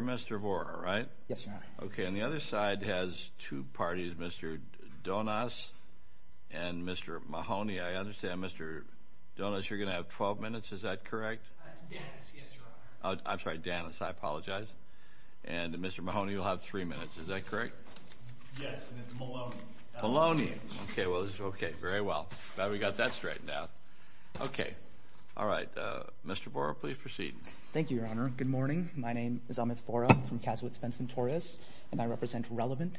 Mr. Horner, right? Yes, sir. Okay, and the other side has two parties, Mr. Donas and Mr. Mahoney. I understand, Mr. Donas, you're going to have 12 minutes, is that correct? I'm sorry, Danis, I apologize. And Mr. Mahoney, you'll have three minutes, is that correct? Yes, and it's Maloney. Maloney, okay, very well. Glad we got that straightened out. Okay, all right, Mr. Bora, please proceed. Thank you, Your Honor. Good morning, my name is Amit Bora from Kasowitz Benson Torres and I represent Relevant.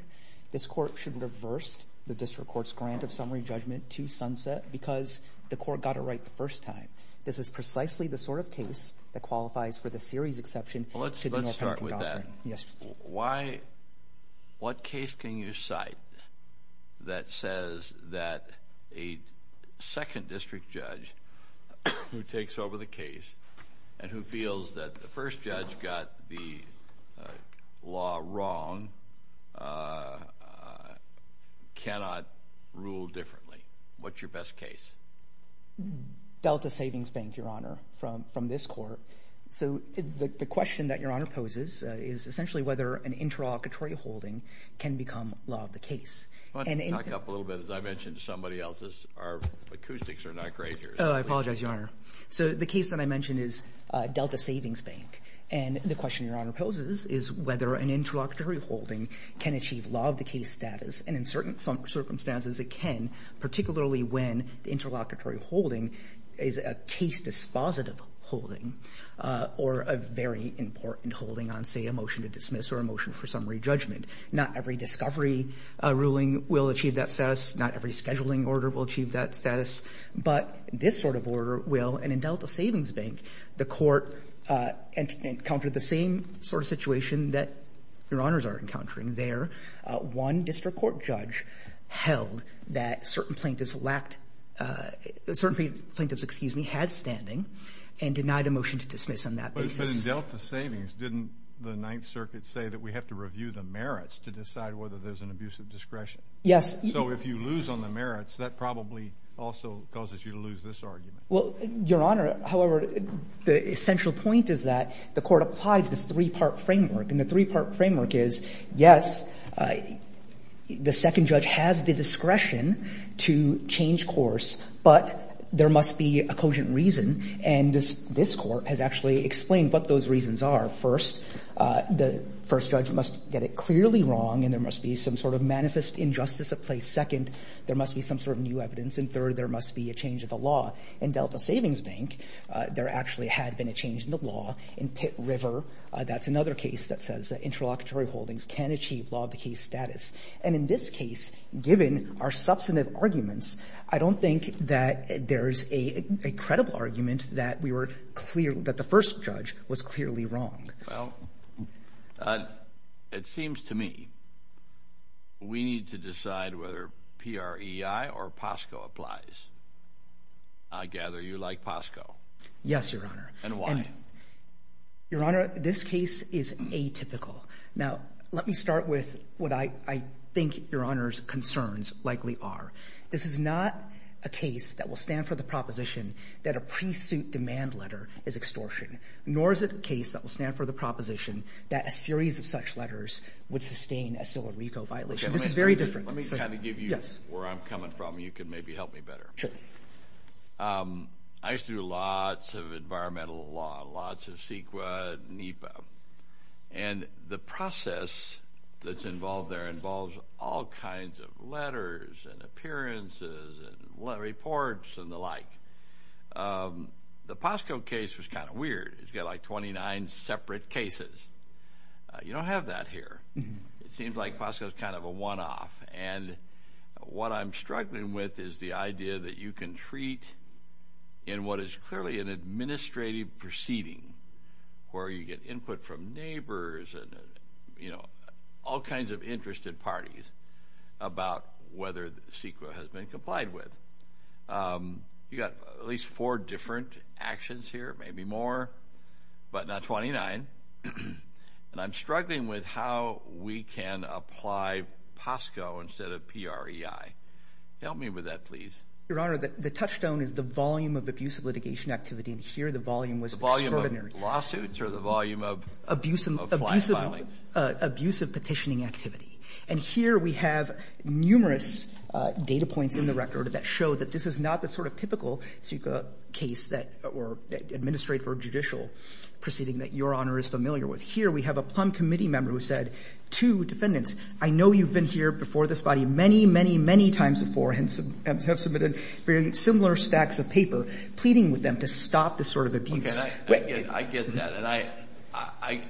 This court should reverse the district court's grant of summary judgment to Sunset because the court got it right the first time. This is precisely the sort of case that qualifies for the series exception. Let's start with that. Yes. Why, what case can you cite that says that a second district judge who takes over the case and who feels that the first judge got the law wrong cannot rule differently? What's your best case? Delta Savings Bank, Your Honor, from this court. So the question that Your Honor poses is essentially whether an interlocutory holding can become law of the case. Talk up a little bit, as I mentioned to somebody else, our acoustics are not great here. Oh, I apologize, Your Honor. So the case that I mentioned is Delta Savings Bank and the question Your Honor poses is whether an interlocutory holding can achieve law of the case status and in certain circumstances it can, particularly when the case dispositive holding or a very important holding on, say, a motion to dismiss or a motion for summary judgment. Not every discovery ruling will achieve that status, not every scheduling order will achieve that status, but this sort of order will. And in Delta Savings Bank, the court encountered the same sort of situation that Your Honors are encountering there. One district court judge held that certain plaintiffs lacked, certain plaintiffs, excuse me, had standing and denied a motion to dismiss on that basis. But in Delta Savings, didn't the Ninth Circuit say that we have to review the merits to decide whether there's an abuse of discretion? Yes. So if you lose on the merits, that probably also causes you to lose this argument. Well, Your Honor, however, the essential point is that the court applied this three-part framework and the three-part framework is, yes, the second judge has the discretion to change course, but there must be a cogent reason and this court has actually explained what those reasons are. First, the first judge must get it clearly wrong and there must be some sort of manifest injustice of place. Second, there must be some sort of new evidence. And third, there must be a change in the law. In Delta Savings Bank, there actually had been a change in the law. In Pitt River, that's another case that says that interlocutory holdings can achieve law of the case status. And in this case, given our substantive arguments, I don't think that there's a credible argument that we were clear, that the first judge was clearly wrong. Well, it seems to me we need to decide whether PREI or POSCO applies. I gather you like POSCO. Yes, Your Honor. And why? Your Honor, this case is atypical. Now, let me start with what I think Your Honor's concerns likely are. This is not a case that will stand for the proposition that a pre-suit demand letter is extortion, nor is it a case that will stand for the proposition that a series of such letters would sustain a case. I used to do lots of environmental law, lots of CEQA, NEPA. And the process that's involved there involves all kinds of letters and appearances and reports and the like. The POSCO case was kind of weird. It's got like 29 separate cases. You don't have that here. It seems like POSCO is kind of a one-off. And what I'm struggling with is the idea that you can treat in what is clearly an administrative proceeding, where you get input from neighbors and, you know, all kinds of interested parties about whether the CEQA has been complied with. You got at least four different actions here, maybe more, but not The touchstone is the volume of abusive litigation activity. And here the volume was extraordinary. The volume of lawsuits or the volume of client filings? Abusive petitioning activity. And here we have numerous data points in the record that show that this is not the sort of typical CEQA case that or administrative or judicial proceeding that Your Honor is familiar with. Here we have a Plum Committee member who said to defendants, I know you've been here before this body many, many, very similar stacks of paper, pleading with them to stop this sort of abuse. I get that. And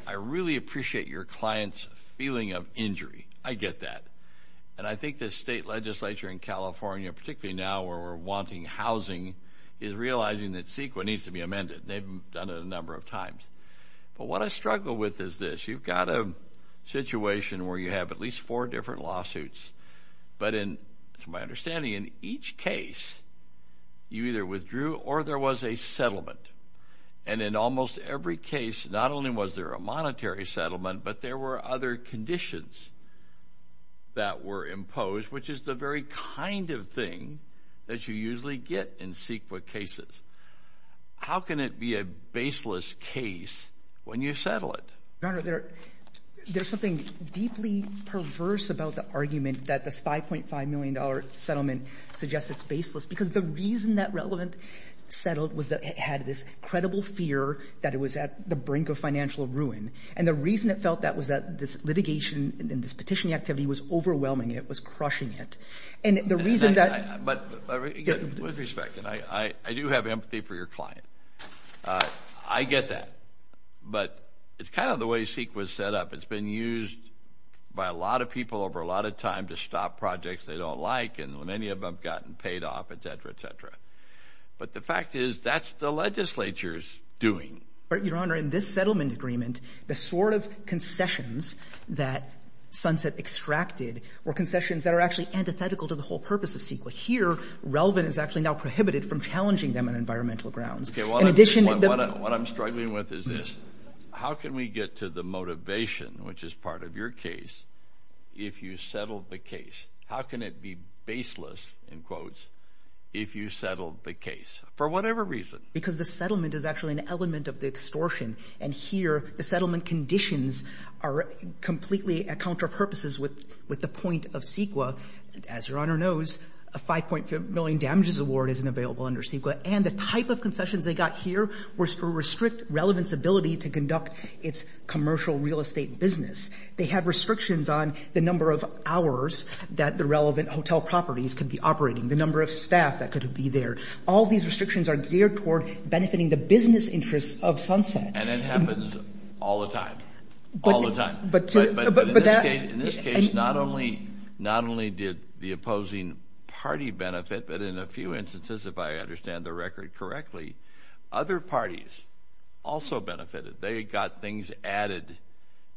I really appreciate your client's feeling of injury. I get that. And I think the state legislature in California, particularly now where we're wanting housing, is realizing that CEQA needs to be amended. They've done it a number of times. But what I struggle with is this. You've got a situation where you have at least four different lawsuits. But in my understanding, in each case you either withdrew or there was a settlement. And in almost every case, not only was there a monetary settlement, but there were other conditions that were imposed, which is the very kind of thing that you usually get in CEQA cases. How can it be a baseless case when you settle it? Your Honor, there's something deeply perverse about the argument that this 5.5 million dollar settlement suggests it's baseless. Because the reason that relevant settled was that it had this credible fear that it was at the brink of financial ruin. And the reason it felt that was that this litigation and this petitioning activity was overwhelming it, was crushing it. And the reason that... But with respect, I do have empathy for your client. I get that. But it's kind of the way CEQA was set up. It's been used by a lot of people over a lot of time to stop projects they don't like. And many of them have gotten paid off, et cetera, et cetera. But the fact is, that's the legislature's doing. Your Honor, in this settlement agreement, the sort of concessions that Sunset extracted were concessions that are actually antithetical to the whole purpose of CEQA. Here, relevant is actually now prohibited from challenging them on environmental grounds. In addition to the... What I'm struggling with is this. How can we get to the motivation, which is part of your case, if you settled the case? How can it be baseless, in quotes, if you settled the case? For whatever reason. Because the settlement is actually an element of the extortion. And here, the settlement conditions are completely at counter purposes with the point of CEQA. As Your Honor knows, a 5.5 million damages award isn't available under CEQA. And the type of concessions they got here were to restrict relevant's ability to conduct its commercial real estate business. They had restrictions on the number of hours that the relevant hotel properties could be operating, the number of staff that could be there. All these restrictions are geared toward benefiting the business interests of Sunset. And it happens all the time. All the time. But in this case, not only did the opposing party benefit, but in a few instances, if I understand the record correctly, other parties also benefited. They got things added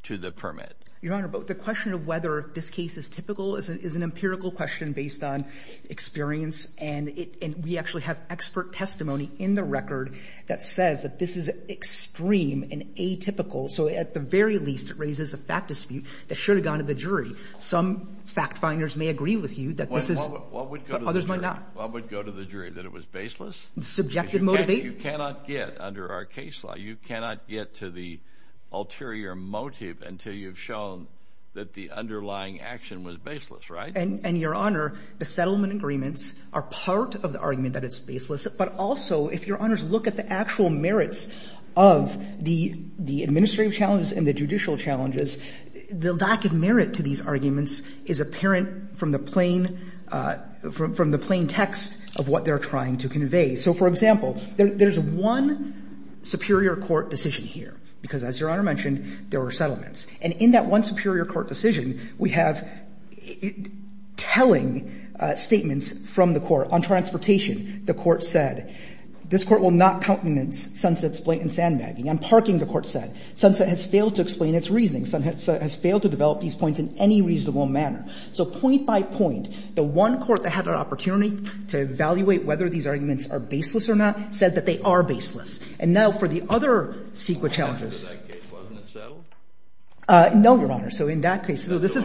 to the permit. Your Honor, but the question of whether this case is typical is an empirical question based on experience. And we actually have expert testimony in the record that says that this is extreme and atypical. So at the very least, it raises a fact dispute that should have gone to the jury. Some fact finders may agree with you that this is, but others might not. What would go to the jury? That it was baseless? Subjective motive. You cannot get, under our case law, you cannot get to the ulterior motive until you've shown that the underlying action was baseless, right? And Your Honor, the settlement agreements are part of the argument that it's baseless. But also, if Your Honor's look at the actual merits of the administrative challenges and the judicial challenges, the lack of merit to these arguments is apparent from the plain text of what they're trying to convey. So, for example, there's one superior court decision here, because as Your Honor mentioned, there were settlements. And in that one superior court decision, we have telling statements from the court. On transportation, the court said, this court will not countenance Sunset's blatant sandbagging. On parking, the court said, Sunset has failed to explain its reasoning. Sunset has failed to develop these points in any reasonable manner. So, point by point, the one court that had an opportunity to evaluate whether these arguments are baseless or not said that they are baseless. And now for the other CEQA challenges. So, in that case, wasn't it settled? No, Your Honor. So, in that case, this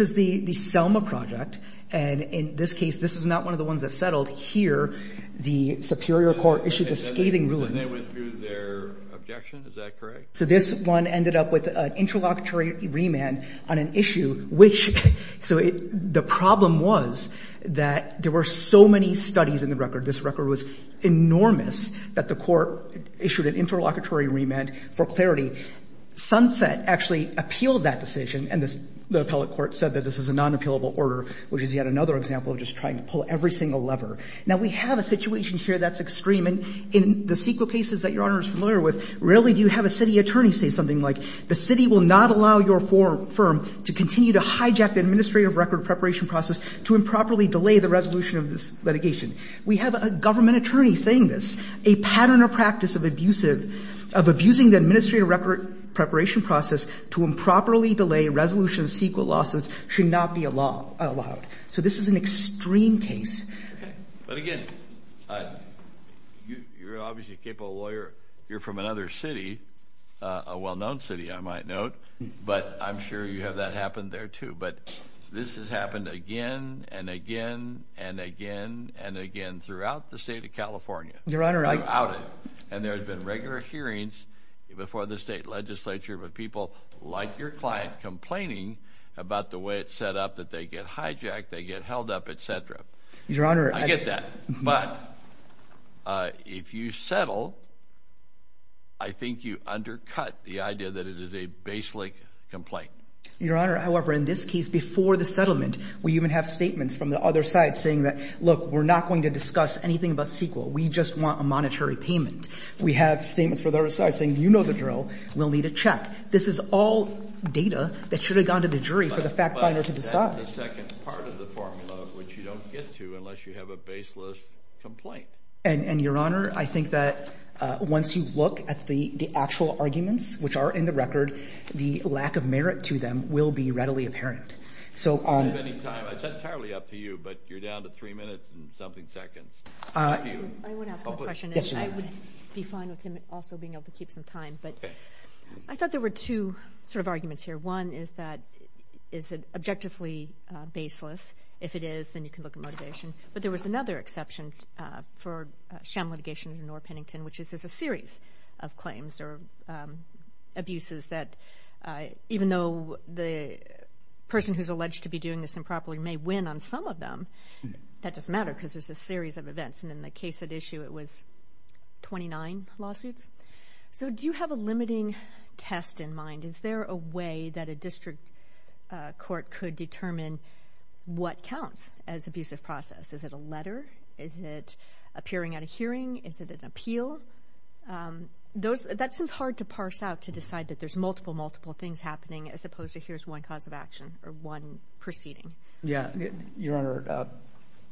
is the Selma project. And in this case, this is not one of the ones that settled. Here, the superior court issued a scathing ruling. And they went through their objection. Is that correct? So, this one ended up with an interlocutory remand on an issue which, so, the problem was that there were so many studies in the record. This record was enormous that the court issued an interlocutory remand for clarity. Sunset actually appealed that decision. And the appellate court said that this is a non-appealable order, which is yet another example of just trying to pull every single lever. Now, we have a situation here that's extreme. And in the CEQA cases that Your Honor, the attorneys say something like, the city will not allow your firm to continue to hijack the administrative record preparation process to improperly delay the resolution of this litigation. We have a government attorney saying this. A pattern or practice of abusive, of abusing the administrative record preparation process to improperly delay resolution of CEQA lawsuits should not be allowed. So, this is an extreme case. But again, you're obviously a capable lawyer. You're from another city, a well-known city, I might note. But I'm sure you have that happened there too. But this has happened again and again and again and again throughout the state of California. Your Honor, I... Throughout it. And there's been regular hearings before the state legislature with people like your client complaining about the way it's Your Honor... I get that. But, if you settle, I think you undercut the idea that it is a baselink complaint. Your Honor, however, in this case, before the settlement, we even have statements from the other side saying that, look, we're not going to discuss anything about CEQA. We just want a monetary payment. We have statements for the other side saying, you know the drill. We'll need a check. This is all data that should have gone to the jury for the fact finder to decide. But that's the second part of the formula, which you don't get to unless you have a baseless complaint. And, Your Honor, I think that once you look at the actual arguments, which are in the record, the lack of merit to them will be readily apparent. So... If you have any time, it's entirely up to you, but you're down to three minutes and something seconds. I would ask the question and I would be fine with him also being able to keep some time. But I thought there were two sort of arguments here. One is that, is it objectively baseless? If it is, then you can look at motivation. But there was another exception for sham litigation under Norah Pennington, which is there's a series of claims or abuses that, even though the person who's alleged to be doing this improperly may win on some of them, that doesn't matter because there's a series of events. And in the case at issue, it was 29 lawsuits. So do you have a limiting test in mind? Is there a way that a district court could determine what counts as abusive process? Is it a letter? Is it appearing at a hearing? Is it an appeal? That seems hard to parse out to decide that there's multiple, multiple things happening as opposed to here's one cause of action or one proceeding. Yeah. Your Honor,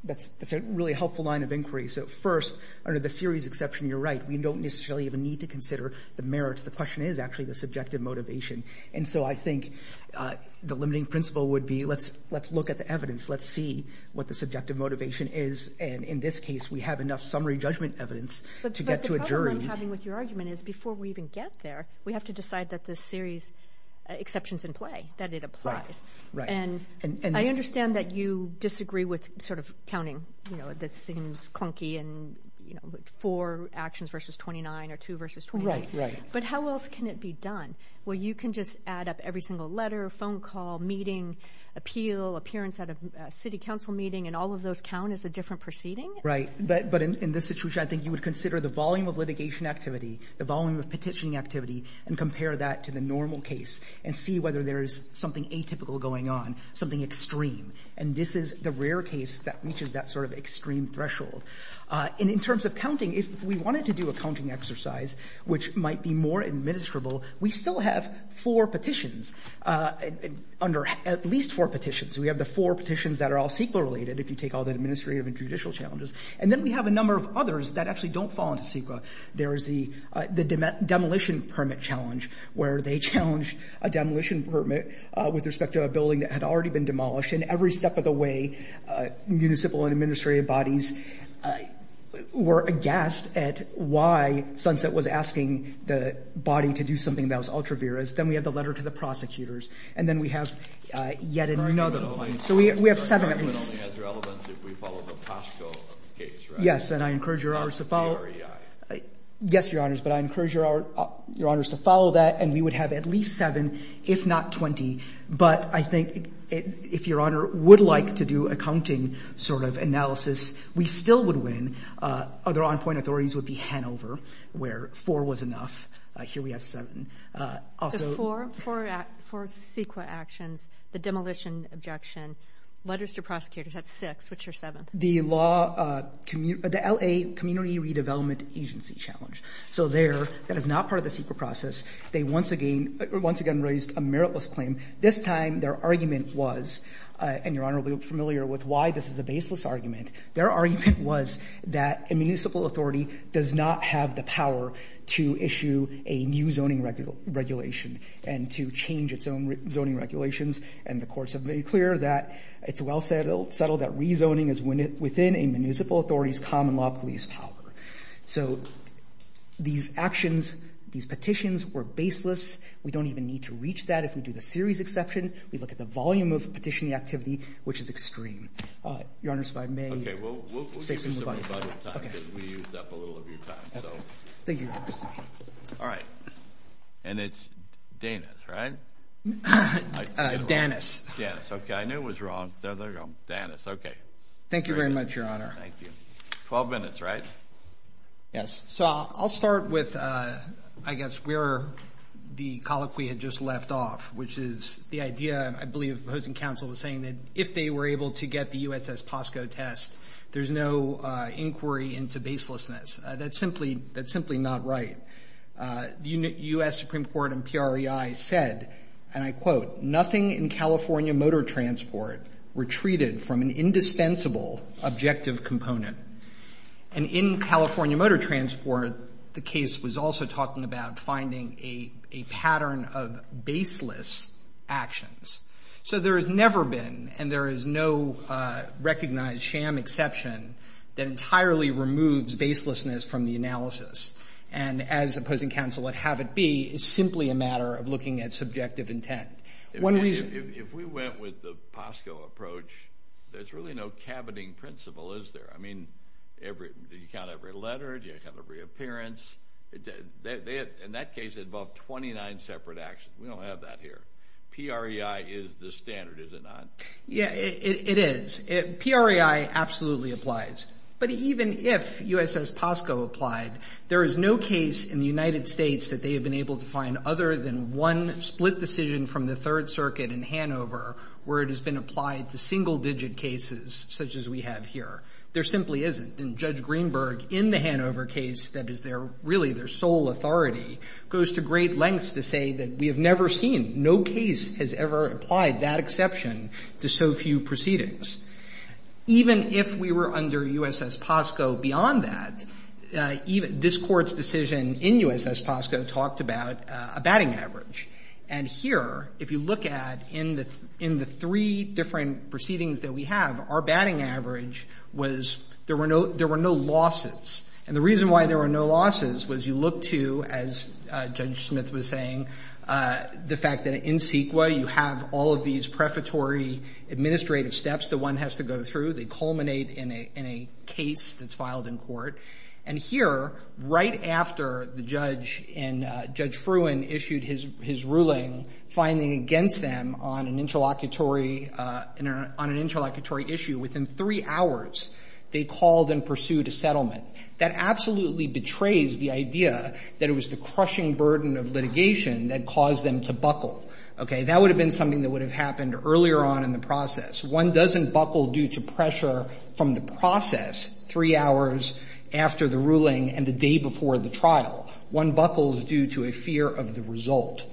that's a really helpful line of inquiry. So first, under the series exception, you're right. We don't necessarily even need to consider the merits. The question is actually the subjective motivation. And so I think the limiting principle would be, let's look at the evidence. Let's see what the subjective motivation is. And in this case, we have enough summary judgment evidence to get to a jury. What I'm having with your argument is before we even get there, we have to decide that the series exceptions in play, that it applies. And I understand that you disagree with counting that seems clunky and four actions versus 29 or two versus 29. But how else can it be done? Well, you can just add up every single letter, phone call, meeting, appeal, appearance at a city council meeting, and all of those count as a different proceeding? Right. But in this situation, I think you would consider the volume of litigation activity, the volume of petitioning activity, and compare that to the normal case and see whether there is something atypical going on, something extreme. And this is the rare case that reaches that sort of extreme threshold. And in terms of counting, if we wanted to do a counting exercise, which might be more administrable, we still have four petitions, at least four petitions. We have the four petitions that are all CEQA related, if you take all the administrative and judicial challenges. And then we have a number of others that actually don't fall into CEQA. There is the demolition permit challenge, where they challenged a demolition permit with respect to a building that had already been demolished. And every step of the way, municipal and administrative bodies were aghast at why Sunset was asking the body to do something that was ultra vires. Then we have the letter to the prosecutors. And then we have yet another one. So we have seven at least. Yes, and I encourage your honors to follow. Yes, your honors, but I encourage your honors to follow that. And we would have at least seven, if not 20. But I think if your honor would like to do a counting sort of analysis, we still would win. Other on point authorities would be Hanover, where four was enough. Here we have seven. Four CEQA actions, the demolition objection, letters to prosecutors, that's six, which are seven. The LA Community Redevelopment Agency challenge. So there, that is not part of the CEQA process. They once again raised a meritless claim. This time their argument was, and your honor will be familiar with why this is a baseless argument, their argument was that a municipal authority does not have the power to issue a new zoning regulation and to change its own zoning regulations. And the courts have made it clear that it's well settled that rezoning is within a municipal authority's common law police power. So these actions, these petitions were baseless. We don't even need to reach that if we do the series exception. We look at the volume of petitioning activity, which is extreme. Your honors, if I may say something about it. We used up a little of your time. Thank you, your honors. All right. And it's Danis, right? Danis. Danis, okay. I knew it was wrong. Danis, okay. Thank you very much, your honor. Twelve minutes, right? Yes, so I'll start with, I guess, where the colloquy had just left off, which is the idea, I believe, of opposing counsel was saying that if they were able to get the USS Pasco test, there's no inquiry into baselessness. That's simply not right. The U.S. Supreme Court and PREI said, and I quote, nothing in California motor transport retreated from an indispensable objective component. And in California motor transport, the case was also talking about finding a pattern of baseless actions. So there has never been, and there is no recognized sham exception that entirely removes baselessness from the analysis. And as opposing counsel would have it be, it's simply a matter of looking at subjective intent. If we went with the Pasco approach, there's really no caboting principle, is there? I mean, do you count every letter? Do you count every appearance? In that case, it involved 29 separate actions. We don't have that here. PREI is the standard, is it not? Yeah, it is. PREI absolutely applies. But even if USS Pasco applied, there is no case in the United States that they have been able to find other than one split decision from the Third Circuit in Hanover where it has been applied to single-digit cases such as we have here. There simply isn't. And Judge Greenberg, in the Hanover case that is their, really their sole authority, goes to great lengths to say that we have never seen, no case has ever applied that exception to so few proceedings. Even if we were under USS Pasco beyond that, this Court's decision in USS Pasco talked about a batting average. And here, if you look at, in the three different proceedings that we have, our batting average was there were no losses. And the reason why there were no losses was you look to, as Judge Smith was saying, the fact that in CEQA you have all of these prefatory administrative steps that one has to go through. They culminate in a case that's filed in court. And here, right after the judge and Judge Fruin issued his ruling finding against them on an interlocutory issue, within three hours they called and pursued a settlement. That absolutely betrays the idea that it was the crushing burden of litigation that caused them to buckle. Okay? That would have been something that would have happened earlier on in the process. One doesn't buckle due to pressure from the process three hours after the ruling and the day before the trial. One buckles due to a fear of the result.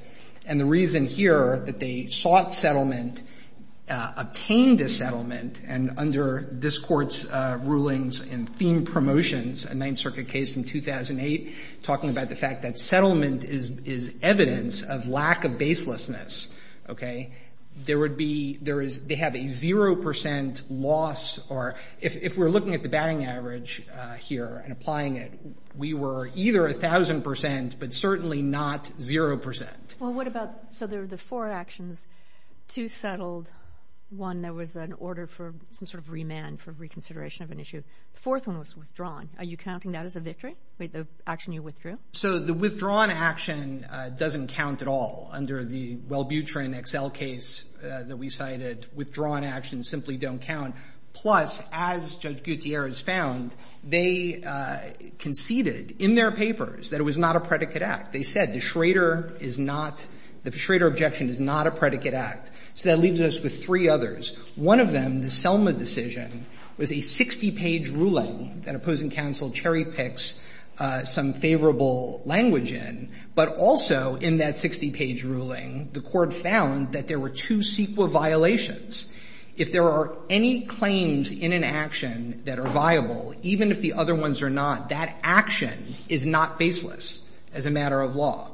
And the reason here that they sought settlement, obtained a settlement, and under this Court's rulings and theme promotions, a Ninth Circuit case from 2008, talking about the fact that settlement is evidence of lack of baselessness, okay, there would be, they have a 0% loss or, if we're looking at the batting average here and applying it, we were either 1,000% but certainly not 0%. Well, what about, so there were the four actions. Two settled. One, there was an order for some sort of remand for reconsideration of an issue. The fourth one was withdrawn. Are you counting that as a victory, the action you withdrew? So the withdrawn action doesn't count at all under the Wellbutrin XL case that we cited. Withdrawn actions simply don't count. Plus, as Judge Gutierrez found, they conceded in their papers that it was not a predicate act. They said the Schrader is not, the Schrader objection is not a predicate act. So that leaves us with three others. One of them, the Selma decision, was a 60-page ruling that opposing counsel cherry-picks some favorable language in. But also in that 60-page ruling, the Court found that there were two CEQA violations. If there are any claims in an action that are viable, even if the other ones are not, that action is not baseless as a matter of law.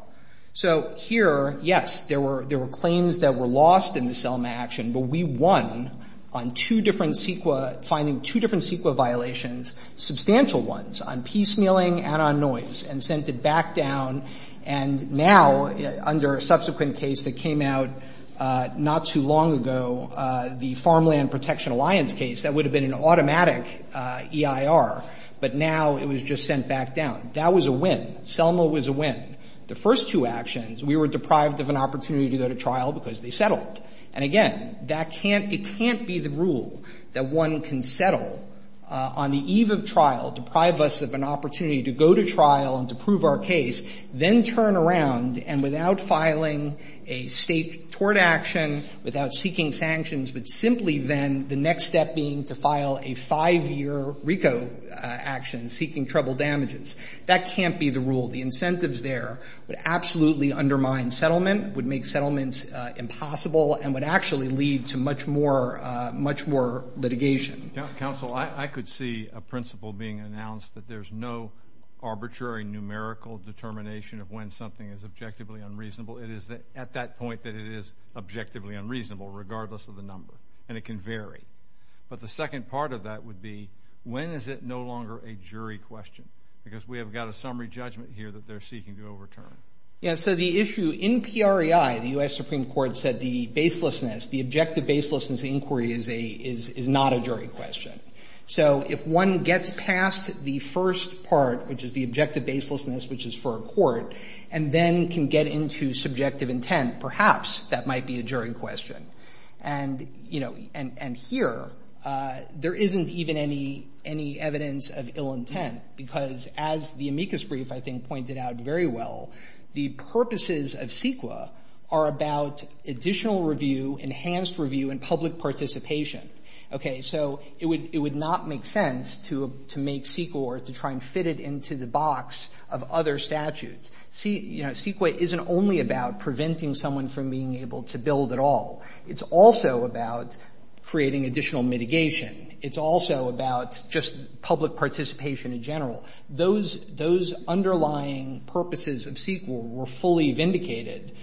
So here, yes, there were claims that were lost in the Selma action, but we won on two different CEQA, finding two different CEQA violations, substantial ones, on piecemealing and on noise, and sent it back down. And now, under a subsequent case that came out not too long ago, the Farmland Protection Alliance case, that would have been an automatic EIR, but now it was just sent back down. That was a win. Selma was a win. The first two actions, we were deprived of an opportunity to go to trial because they settled. And again, that can't be the rule that one can settle on the eve of trial, deprive us of an opportunity to go to trial and to prove our case, then turn around, and without filing a State tort action, without seeking sanctions, but simply then the next step being to file a 5-year RICO action seeking treble damages. That can't be the rule. The incentives there would absolutely undermine settlement, would make settlements impossible, and would actually lead to much more litigation. Counsel, I could see a principle being announced that there's no arbitrary numerical determination of when something is objectively unreasonable. It is at that point that it is objectively unreasonable, regardless of the number, and it can vary. But the second part of that would be, when is it no longer a jury question? Because we have got a summary judgment here that they're seeking to overturn. Yeah. So the issue in PREI, the U.S. Supreme Court said the baselessness, the objective baselessness inquiry is not a jury question. So if one gets past the first part, which is the objective baselessness, which is for a court, and then can get into subjective intent, perhaps that might be a jury question. And, you know, and here, there isn't even any evidence of ill intent, because as the amicus brief, I think, pointed out very well, the purposes of CEQA are about additional review, enhanced review, and public participation. Okay. So it would not make sense to make CEQA or to try and fit it into the box of other statutes. CEQA isn't only about preventing someone from being able to build at all. It's also about creating additional mitigation. It's also about just public participation in general. Those underlying purposes of CEQA were fully vindicated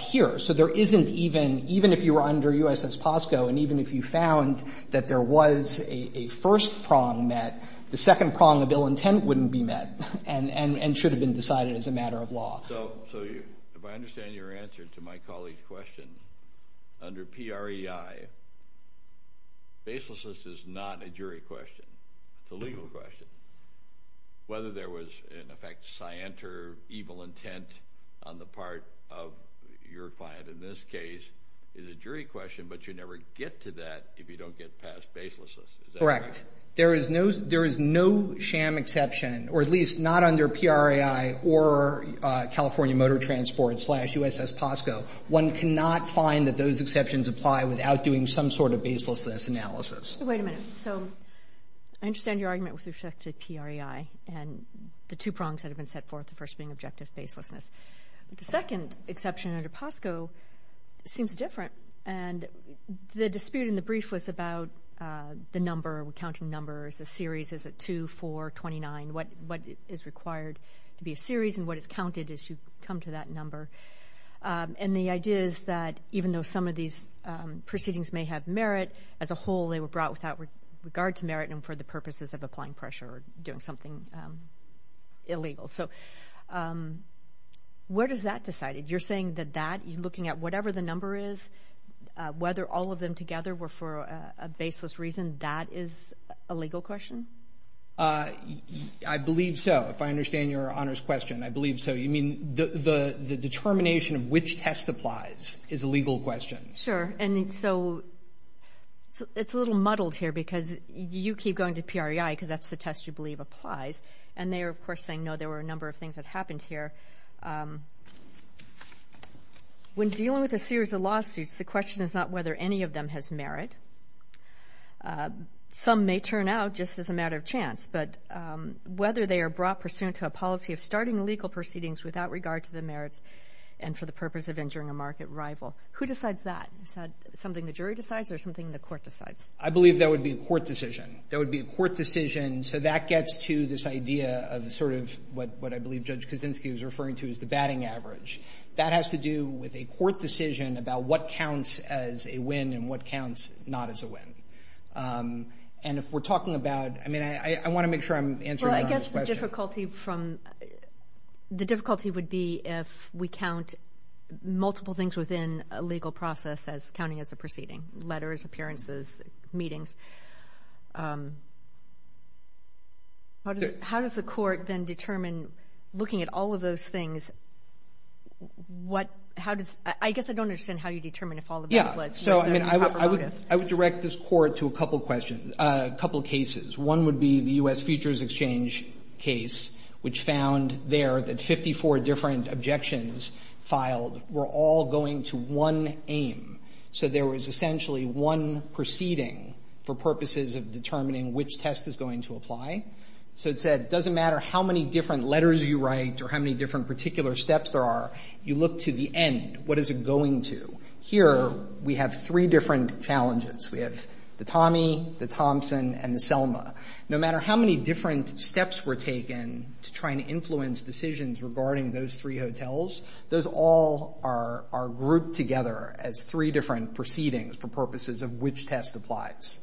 here. So there isn't even, even if you were under U.S.S. POSCO and even if you found that there was a first prong that the second prong of ill intent wouldn't be met and should have been decided as a matter of law. So if I understand your answer to my colleague's question, under PREI, baselessness is not a jury question. It's a legal question. Whether there was, in effect, scient or evil intent on the part of your client in this case is a jury question, but you never get to that if you don't get past baselessness. Is that correct? Correct. There is no sham exception, or at least not under PREI or California Motor Transport slash U.S.S. POSCO. One cannot find that those exceptions apply without doing some sort of baselessness analysis. Wait a minute. So I understand your argument with respect to PREI and the two prongs that have been set forth, the first being objective baselessness. The second exception under POSCO seems different. The dispute in the brief was about the number, the counting numbers, the series, is it 2, 4, 29, what is required to be a series and what is counted as you come to that number. And the idea is that even though some of these proceedings may have merit, as a whole they were brought without regard to merit and for the purposes of applying pressure or doing something illegal. So where does that decide? You're saying that that, you're looking at whatever the number is, whether all of them together were for a baseless reason, that is a legal question? I believe so. If I understand your honors question, I believe so. You mean the determination of which test applies is a legal question. Sure. And so it's a little muddled here because you keep going to PREI because that's the test you believe applies. And they are, of course, saying no, there were a number of things that happened here. When dealing with a series of lawsuits, the question is not whether any of them has merit. Some may turn out just as a matter of chance. But whether they are brought pursuant to a policy of starting legal proceedings without regard to the merits and for the purpose of injuring a market rival, who decides that? Is that something the jury decides or something the court decides? I believe that would be a court decision. That would be a court decision. And so that gets to this idea of sort of what I believe Judge Kaczynski was referring to as the batting average. That has to do with a court decision about what counts as a win and what counts not as a win. And if we're talking about, I mean, I want to make sure I'm answering your honors question. Well, I guess the difficulty from, the difficulty would be if we count multiple things within a legal process as counting as a proceeding. Letters, appearances, meetings. How does the court then determine, looking at all of those things, what, how does, I guess I don't understand how you determine if all of those was cooperative. I would direct this court to a couple questions, a couple cases. One would be the U.S. Futures Exchange case, which found there that 54 different objections filed were all going to one aim. So there was essentially one proceeding for purposes of determining which test is going to apply. So it said it doesn't matter how many different letters you write or how many different particular steps there are. You look to the end. What is it going to? Here we have three different challenges. We have the Tommy, the Thompson, and the Selma. No matter how many different steps were taken to try and influence decisions regarding those three hotels, those all are grouped together as three different proceedings for purposes of which test applies,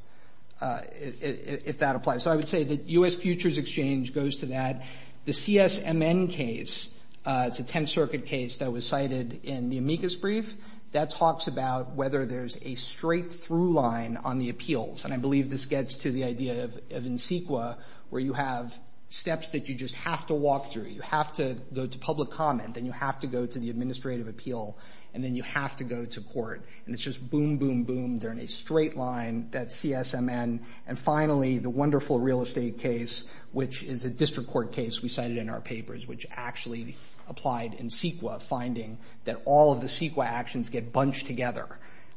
if that applies. So I would say that U.S. Futures Exchange goes to that. The CSMN case, it's a Tenth Circuit case that was cited in the amicus brief. That talks about whether there's a straight-through line on the appeals. And I believe this gets to the idea of in sequa, where you have steps that you just have to walk through. You have to go to public comment. Then you have to go to the administrative appeal. And then you have to go to court. And it's just boom, boom, boom. They're in a straight line, that CSMN. And finally, the wonderful real estate case, which is a district court case we cited in our papers, which actually applied in sequa, finding that all of the sequa actions get bunched together.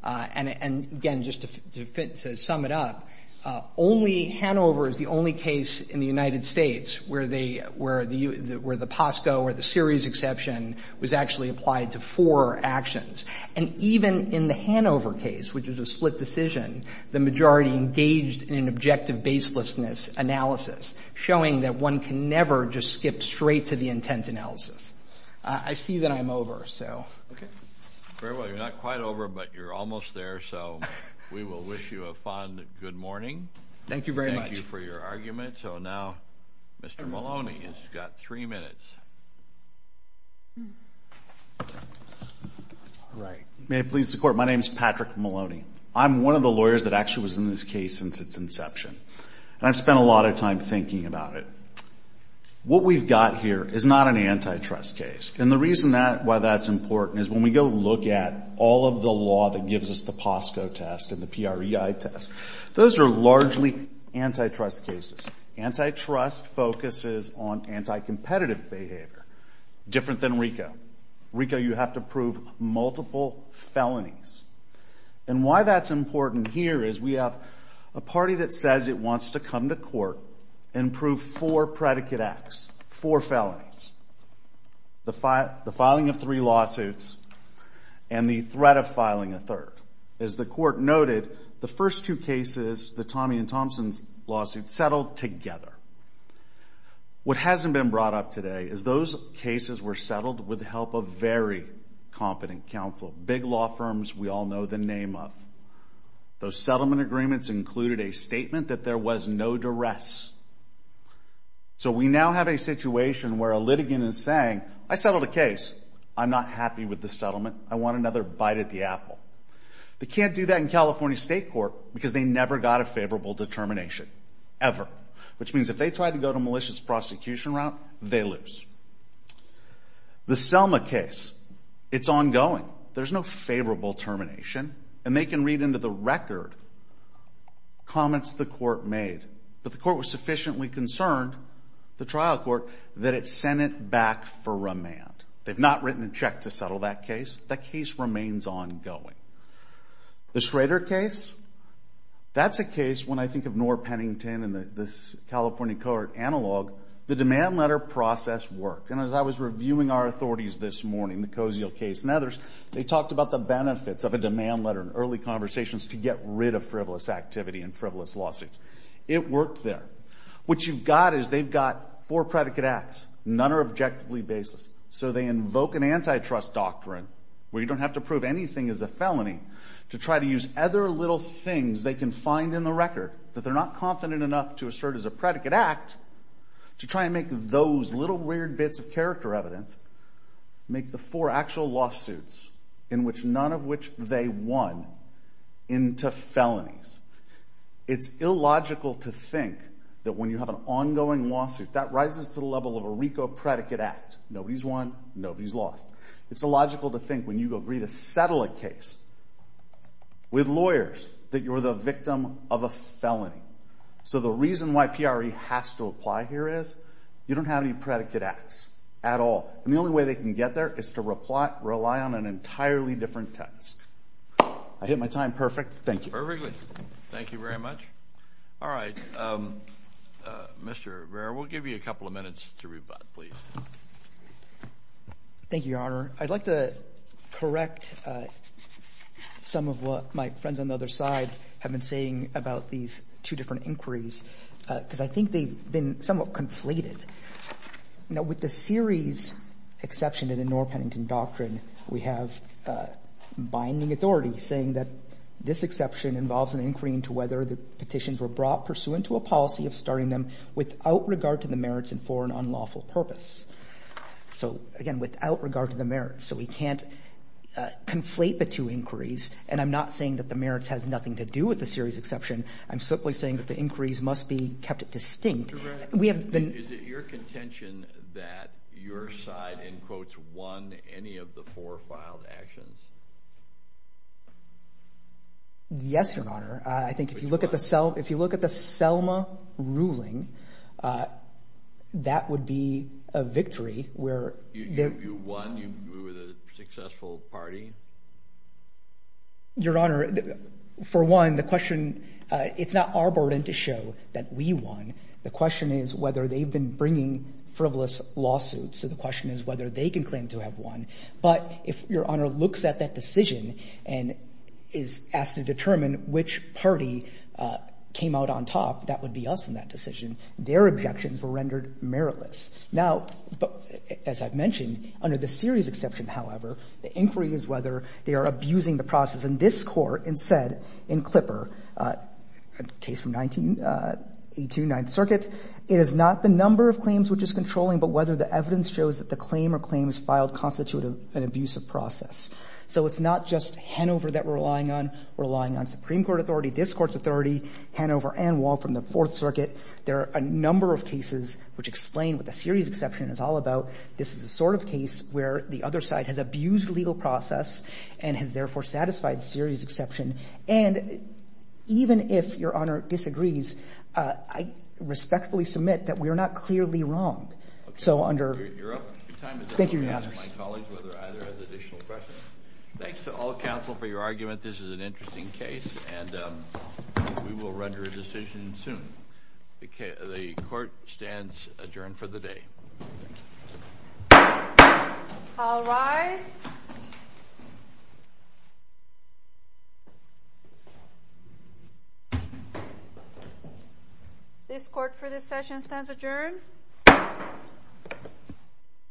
And, again, just to sum it up, Hanover is the only case in the United States where the POSCO or the series exception was actually applied to four actions. And even in the Hanover case, which is a split decision, the majority engaged in an objective baselessness analysis, showing that one can never just skip straight to the intent analysis. I see that I'm over, so. Okay. Very well. You're not quite over, but you're almost there. So we will wish you a fond good morning. Thank you very much. Thank you for your argument. So now Mr. Maloney has got three minutes. All right. May it please the Court, my name is Patrick Maloney. I'm one of the lawyers that actually was in this case since its inception. And I've spent a lot of time thinking about it. What we've got here is not an antitrust case. And the reason why that's important is when we go look at all of the law that gives us the POSCO test and the PREI test, those are largely antitrust cases. Antitrust focuses on anticompetitive behavior, different than RICO. In RICO you have to prove multiple felonies. And why that's important here is we have a party that says it wants to come to court and prove four predicate acts, four felonies, the filing of three lawsuits and the threat of filing a third. As the Court noted, the first two cases, the Tommy and Thompson lawsuits, settled together. What hasn't been brought up today is those cases were settled with the help of very competent counsel, big law firms we all know the name of. Those settlement agreements included a statement that there was no duress. So we now have a situation where a litigant is saying, I settled a case. I'm not happy with the settlement. I want another bite at the apple. They can't do that in California State Court because they never got a favorable determination, ever. Which means if they try to go the malicious prosecution route, they lose. The Selma case, it's ongoing. There's no favorable termination. And they can read into the record comments the Court made. But the Court was sufficiently concerned, the trial court, that it sent it back for remand. They've not written a check to settle that case. That case remains ongoing. The Schrader case, that's a case, when I think of Noor Pennington and this California court analog, the demand letter process worked. And as I was reviewing our authorities this morning, the Cozio case and others, they talked about the benefits of a demand letter in early conversations to get rid of frivolous activity and frivolous lawsuits. It worked there. What you've got is they've got four predicate acts. None are objectively baseless. So they invoke an antitrust doctrine where you don't have to prove anything is a felony to try to use other little things they can find in the record that they're not confident enough to assert as a predicate act to try and make those little weird bits of character evidence make the four actual lawsuits, in which none of which they won, into felonies. It's illogical to think that when you have an ongoing lawsuit, that rises to the level of a RICO predicate act. Nobody's won, nobody's lost. It's illogical to think when you agree to settle a case with lawyers that you're the victim of a felony. So the reason why PRE has to apply here is you don't have any predicate acts at all. And the only way they can get there is to rely on an entirely different text. I hit my time perfect. Thank you. Perfectly. Thank you very much. All right. Mr. Rivera, we'll give you a couple of minutes to rebut, please. Thank you, Your Honor. I'd like to correct some of what my friends on the other side have been saying about these two different inquiries because I think they've been somewhat conflated. Now, with the series exception to the Knorr-Pennington doctrine, we have binding authority saying that this exception involves an inquiry pertaining to whether the petitions were brought pursuant to a policy of starting them without regard to the merits and for an unlawful purpose. So, again, without regard to the merits. So we can't conflate the two inquiries, and I'm not saying that the merits has nothing to do with the series exception. I'm simply saying that the inquiries must be kept distinct. Mr. Rivera, is it your contention that your side, in quotes, won any of the four filed actions? Yes, Your Honor. I think if you look at the Selma ruling, that would be a victory. You won? You were the successful party? Your Honor, for one, the question, it's not our burden to show that we won. The question is whether they've been bringing frivolous lawsuits. So the question is whether they can claim to have won. But if Your Honor looks at that decision and is asked to determine which party came out on top, that would be us in that decision. Their objections were rendered meritless. Now, as I've mentioned, under the series exception, however, the inquiry is whether they are abusing the process in this Court and said in Klipper, a case from 1829th Circuit, it is not the number of claims which is controlling, but whether the evidence shows that the claim or claims filed constitute an abusive process. So it's not just Hanover that we're relying on. We're relying on Supreme Court authority, this Court's authority, Hanover and Wall from the Fourth Circuit. There are a number of cases which explain what the series exception is all about. This is the sort of case where the other side has abused legal process and has therefore satisfied the series exception. And even if Your Honor disagrees, I respectfully submit that we are not clearly wrong. So under... You're up. Thank you, Your Honors. My colleagues, whether either has additional questions. Thanks to all counsel for your argument. This is an interesting case, and we will render a decision soon. The Court stands adjourned for the day. All rise. This Court for this session stands adjourned.